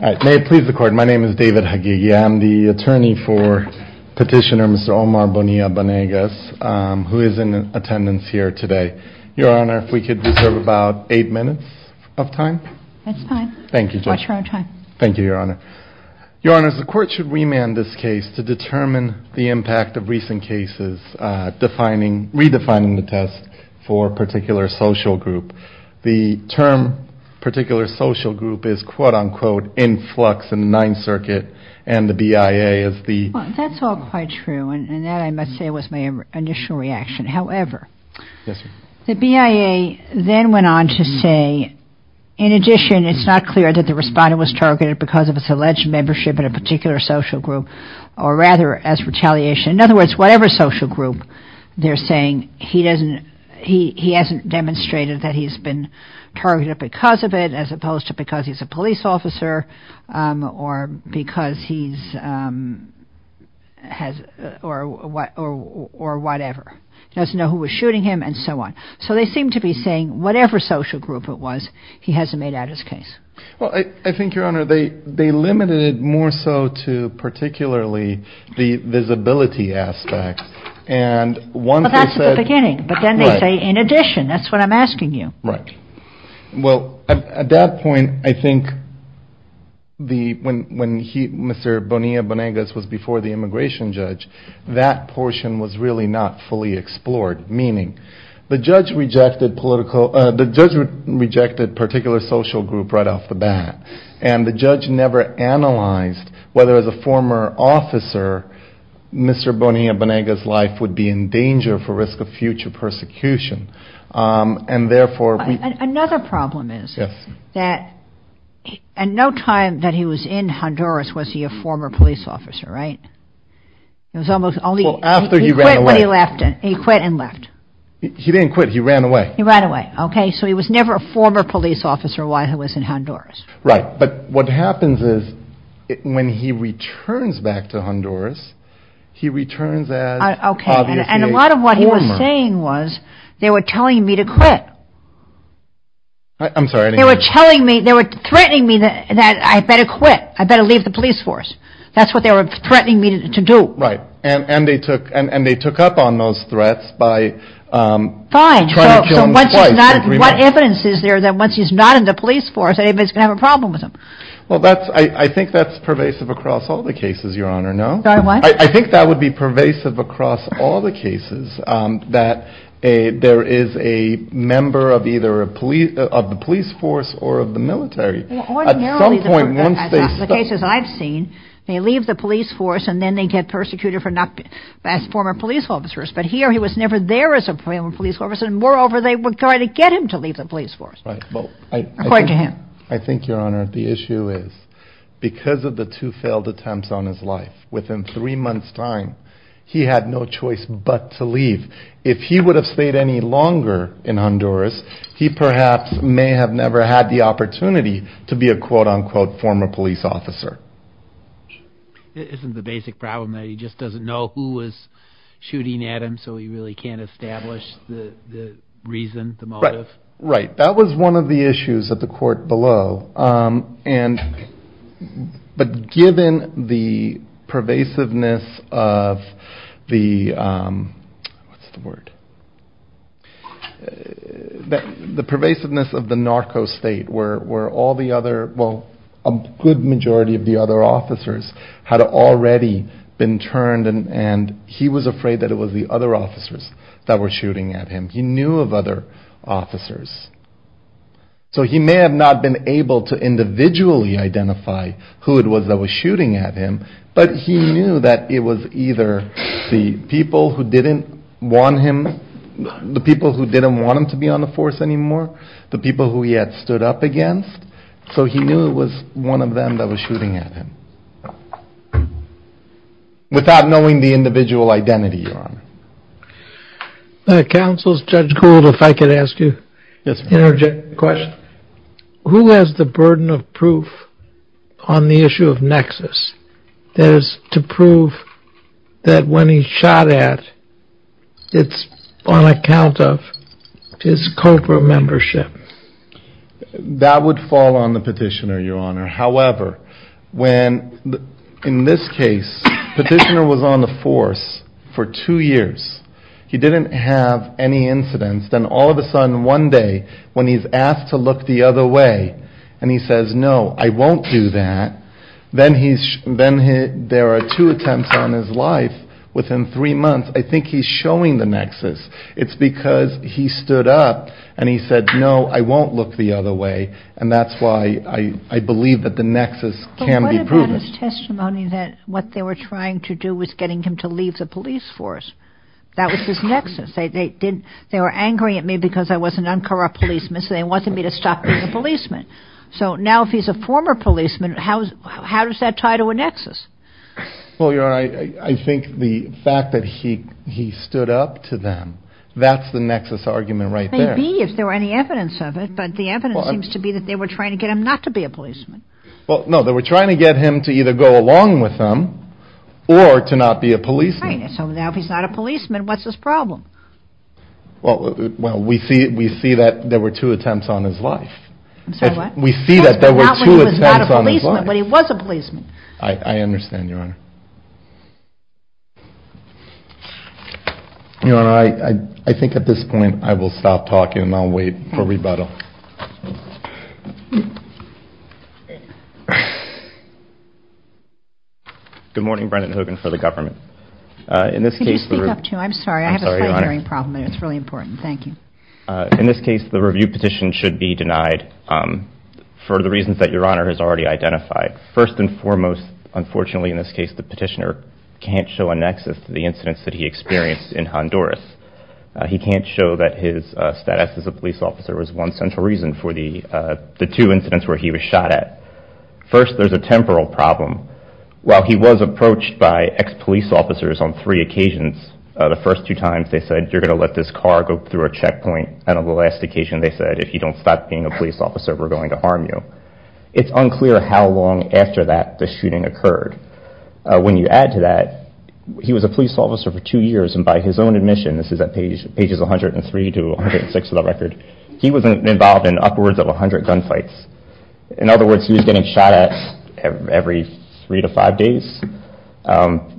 May it please the Court, my name is David Hagigia. I'm the attorney for petitioner Mr. Omar Bonilla-Banegas, who is in attendance here today. Your Honor, if we could reserve about eight minutes of time. That's fine. Thank you, Judge. Watch your own time. Thank you, Your Honor. Your Honors, the Court should remand this case to determine the impact of recent cases redefining the test for a particular social group. The term particular social group is quote-unquote in flux in the Ninth Circuit and the BIA is the... Well, that's all quite true and that I must say was my initial reaction. However, the BIA then went on to say, in addition, it's not clear that the respondent was targeted because of his alleged membership in a particular social group or rather as retaliation. In other words, whatever social group they're saying he hasn't demonstrated that he's been targeted because of it as opposed to because he's a police officer or whatever. He doesn't know who was shooting him and so on. So they seem to be saying whatever social group it was, he hasn't made out his case. Well, I think, Your Honor, they limited it more so to particularly the visibility aspect and one... Well, that's at the beginning. Right. But then they say in addition. That's what I'm asking you. Right. Well, at that point, I think when Mr. Bonilla-Bonegas was before the immigration judge, that portion was really not fully explored. The judge rejected particular social group right off the bat. And the judge never analyzed whether as a former officer, Mr. Bonilla-Bonegas' life would be in danger for risk of future persecution. And therefore... Another problem is... Yes. ...that at no time that he was in Honduras was he a former police officer, right? It was almost only... Well, after he ran away. Well, he left. He quit and left. He didn't quit. He ran away. He ran away. Okay. So he was never a former police officer while he was in Honduras. Right. But what happens is when he returns back to Honduras, he returns as obviously a former... Okay. And a lot of what he was saying was they were telling me to quit. I'm sorry. They were telling me, they were threatening me that I better quit. I better leave the police force. That's what they were threatening me to do. Right. And they took up on those threats by... Fine. ...trying to kill him twice. I agree with that. So what evidence is there that once he's not in the police force, anybody's going to have a problem with him? Well, I think that's pervasive across all the cases, Your Honor. No? Sorry, what? I think that would be pervasive across all the cases that there is a member of either the police force or of the military. Well, ordinarily... At some point, once they... ...the cases I've seen, they leave the police force and then they get persecuted for not being former police officers. But here he was never there as a former police officer, and moreover, they were trying to get him to leave the police force. Right. According to him. I think, Your Honor, the issue is because of the two failed attempts on his life, within three months' time, he had no choice but to leave. If he would have stayed any longer in Honduras, he perhaps may have never had the opportunity to be a quote-unquote former police officer. Isn't the basic problem that he just doesn't know who was shooting at him, so he really can't establish the reason, the motive? Right. That was one of the issues at the court below, but given the pervasiveness of the... What's the word? The pervasiveness of the narco state, where all the other... Well, a good majority of the other officers had already been turned, and he was afraid that it was the other officers that were shooting at him. He knew of other officers. So he may have not been able to individually identify who it was that was shooting at him, but he knew that it was either the people who didn't want him... The people who didn't want him to be on the force anymore, the people who he had stood up against, so he knew it was one of them that was shooting at him. Without knowing the individual identity, Your Honor. Counsel, Judge Gould, if I could ask you an interjecting question. Who has the burden of proof on the issue of Nexus? That is, to prove that when he's shot at, it's on account of his COPRA membership. That would fall on the petitioner, Your Honor. However, in this case, the petitioner was on the force for two years. He didn't have any incidents. Then all of a sudden, one day, when he's asked to look the other way, and he says, no, I won't do that, then there are two attempts on his life within three months. I think he's showing the Nexus. It's because he stood up and he said, no, I won't look the other way, and that's why I believe that the Nexus can be proven. But what about his testimony that what they were trying to do was getting him to leave the police force? That was his Nexus. They were angry at me because I was an uncorrupt policeman, so they wanted me to stop being a policeman. So now if he's a former policeman, how does that tie to a Nexus? Well, Your Honor, I think the fact that he stood up to them, that's the Nexus argument right there. Maybe, if there were any evidence of it, but the evidence seems to be that they were trying to get him not to be a policeman. Well, no, they were trying to get him to either go along with them or to not be a policeman. Right, so now if he's not a policeman, what's his problem? Well, we see that there were two attempts on his life. I'm sorry, what? We see that there were two attempts on his life. But he was a policeman. I understand, Your Honor. Your Honor, I think at this point I will stop talking and I'll wait for rebuttal. Good morning, Brendan Hogan for the government. Can you speak up, too? I'm sorry, I have a sight-hearing problem and it's really important. Thank you. In this case, the review petition should be denied for the reasons that Your Honor has already identified. First and foremost, unfortunately in this case, the petitioner can't show a Nexus to the incidents that he experienced in Honduras. He can't show that his status as a police officer was one central reason for the two incidents where he was shot at. First, there's a temporal problem. While he was approached by ex-police officers on three occasions, the first two times they said, you're going to let this car go through a checkpoint, and on the last occasion they said, if you don't stop being a police officer, we're going to harm you. It's unclear how long after that the shooting occurred. When you add to that, he was a police officer for two years and by his own admission, this is at pages 103 to 106 of the record, he was involved in upwards of 100 gunfights. In other words, he was getting shot at every three to five days.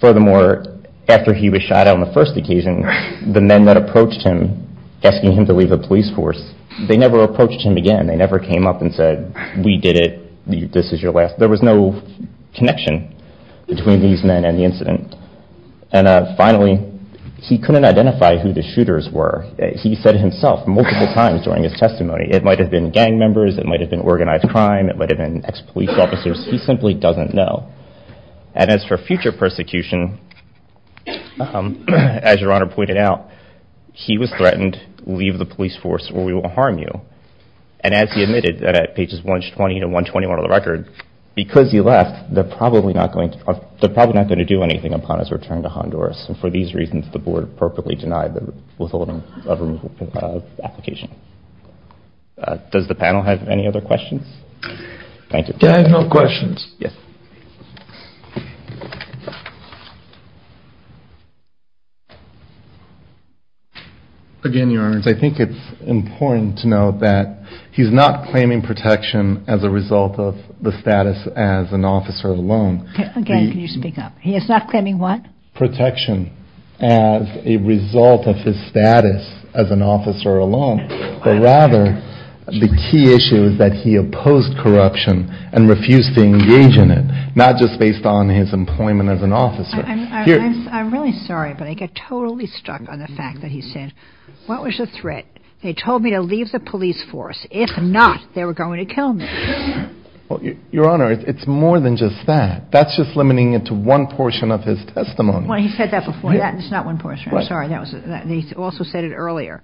Furthermore, after he was shot on the first occasion, the men that approached him, asking him to leave the police force, they never approached him again. They never came up and said, we did it, this is your last. There was no connection between these men and the incident. And finally, he couldn't identify who the shooters were. He said it himself multiple times during his testimony. It might have been gang members. It might have been organized crime. It might have been ex-police officers. He simply doesn't know. And as for future persecution, as Your Honor pointed out, he was threatened, leave the police force or we will harm you. And as he admitted at pages 120 to 121 of the record, because he left, they're probably not going to do anything upon his return to Honduras. And for these reasons, the board appropriately denied the withholding of removal application. Does the panel have any other questions? Thank you. I have no questions. Yes. Again, Your Honor, I think it's important to note that he's not claiming protection as a result of the status as an officer alone. Again, can you speak up? He is not claiming what? Protection as a result of his status as an officer alone, but rather the key issue is that he opposed corruption and refused to engage in it, not just based on his employment as an officer. I'm really sorry, but I get totally stuck on the fact that he said, what was the threat? They told me to leave the police force. If not, they were going to kill me. Well, Your Honor, it's more than just that. That's just limiting it to one portion of his testimony. Well, he said that before. That is not one portion. I'm sorry. He also said it earlier.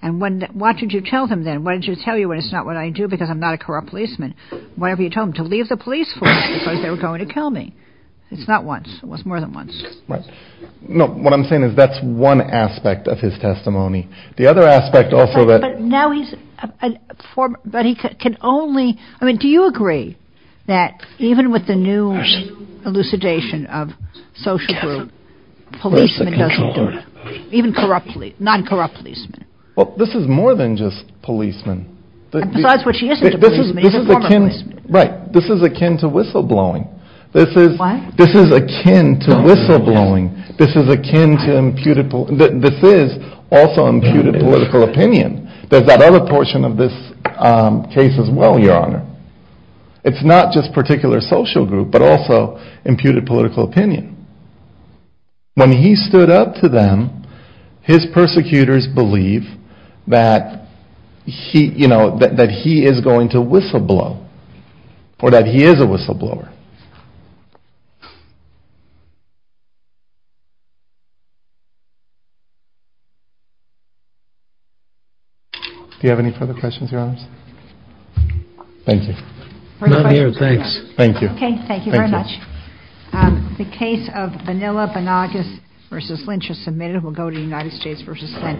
And what did you tell him then? Why didn't you tell him it's not what I do because I'm not a corrupt policeman? Why didn't you tell him to leave the police force because they were going to kill me? It's not once. It was more than once. No, what I'm saying is that's one aspect of his testimony. The other aspect also that – But now he's – but he can only – I mean, do you agree that even with the new elucidation of social group, policemen doesn't do it, even corrupt police, non-corrupt policemen? Well, this is more than just policemen. Besides what she isn't a policeman, she's a former policeman. Right. This is akin to whistleblowing. This is – What? This is akin to whistleblowing. This is akin to imputed – this is also imputed political opinion. There's that other portion of this case as well, Your Honor. It's not just particular social group but also imputed political opinion. When he stood up to them, his persecutors believe that he is going to whistleblow or that he is a whistleblower. Do you have any further questions, Your Honors? Thank you. Not here, thanks. Thank you. Okay, thank you very much. Thank you. The case of Bonilla-Bonagas v. Lynch is submitted. We'll go to United States v. Lynch.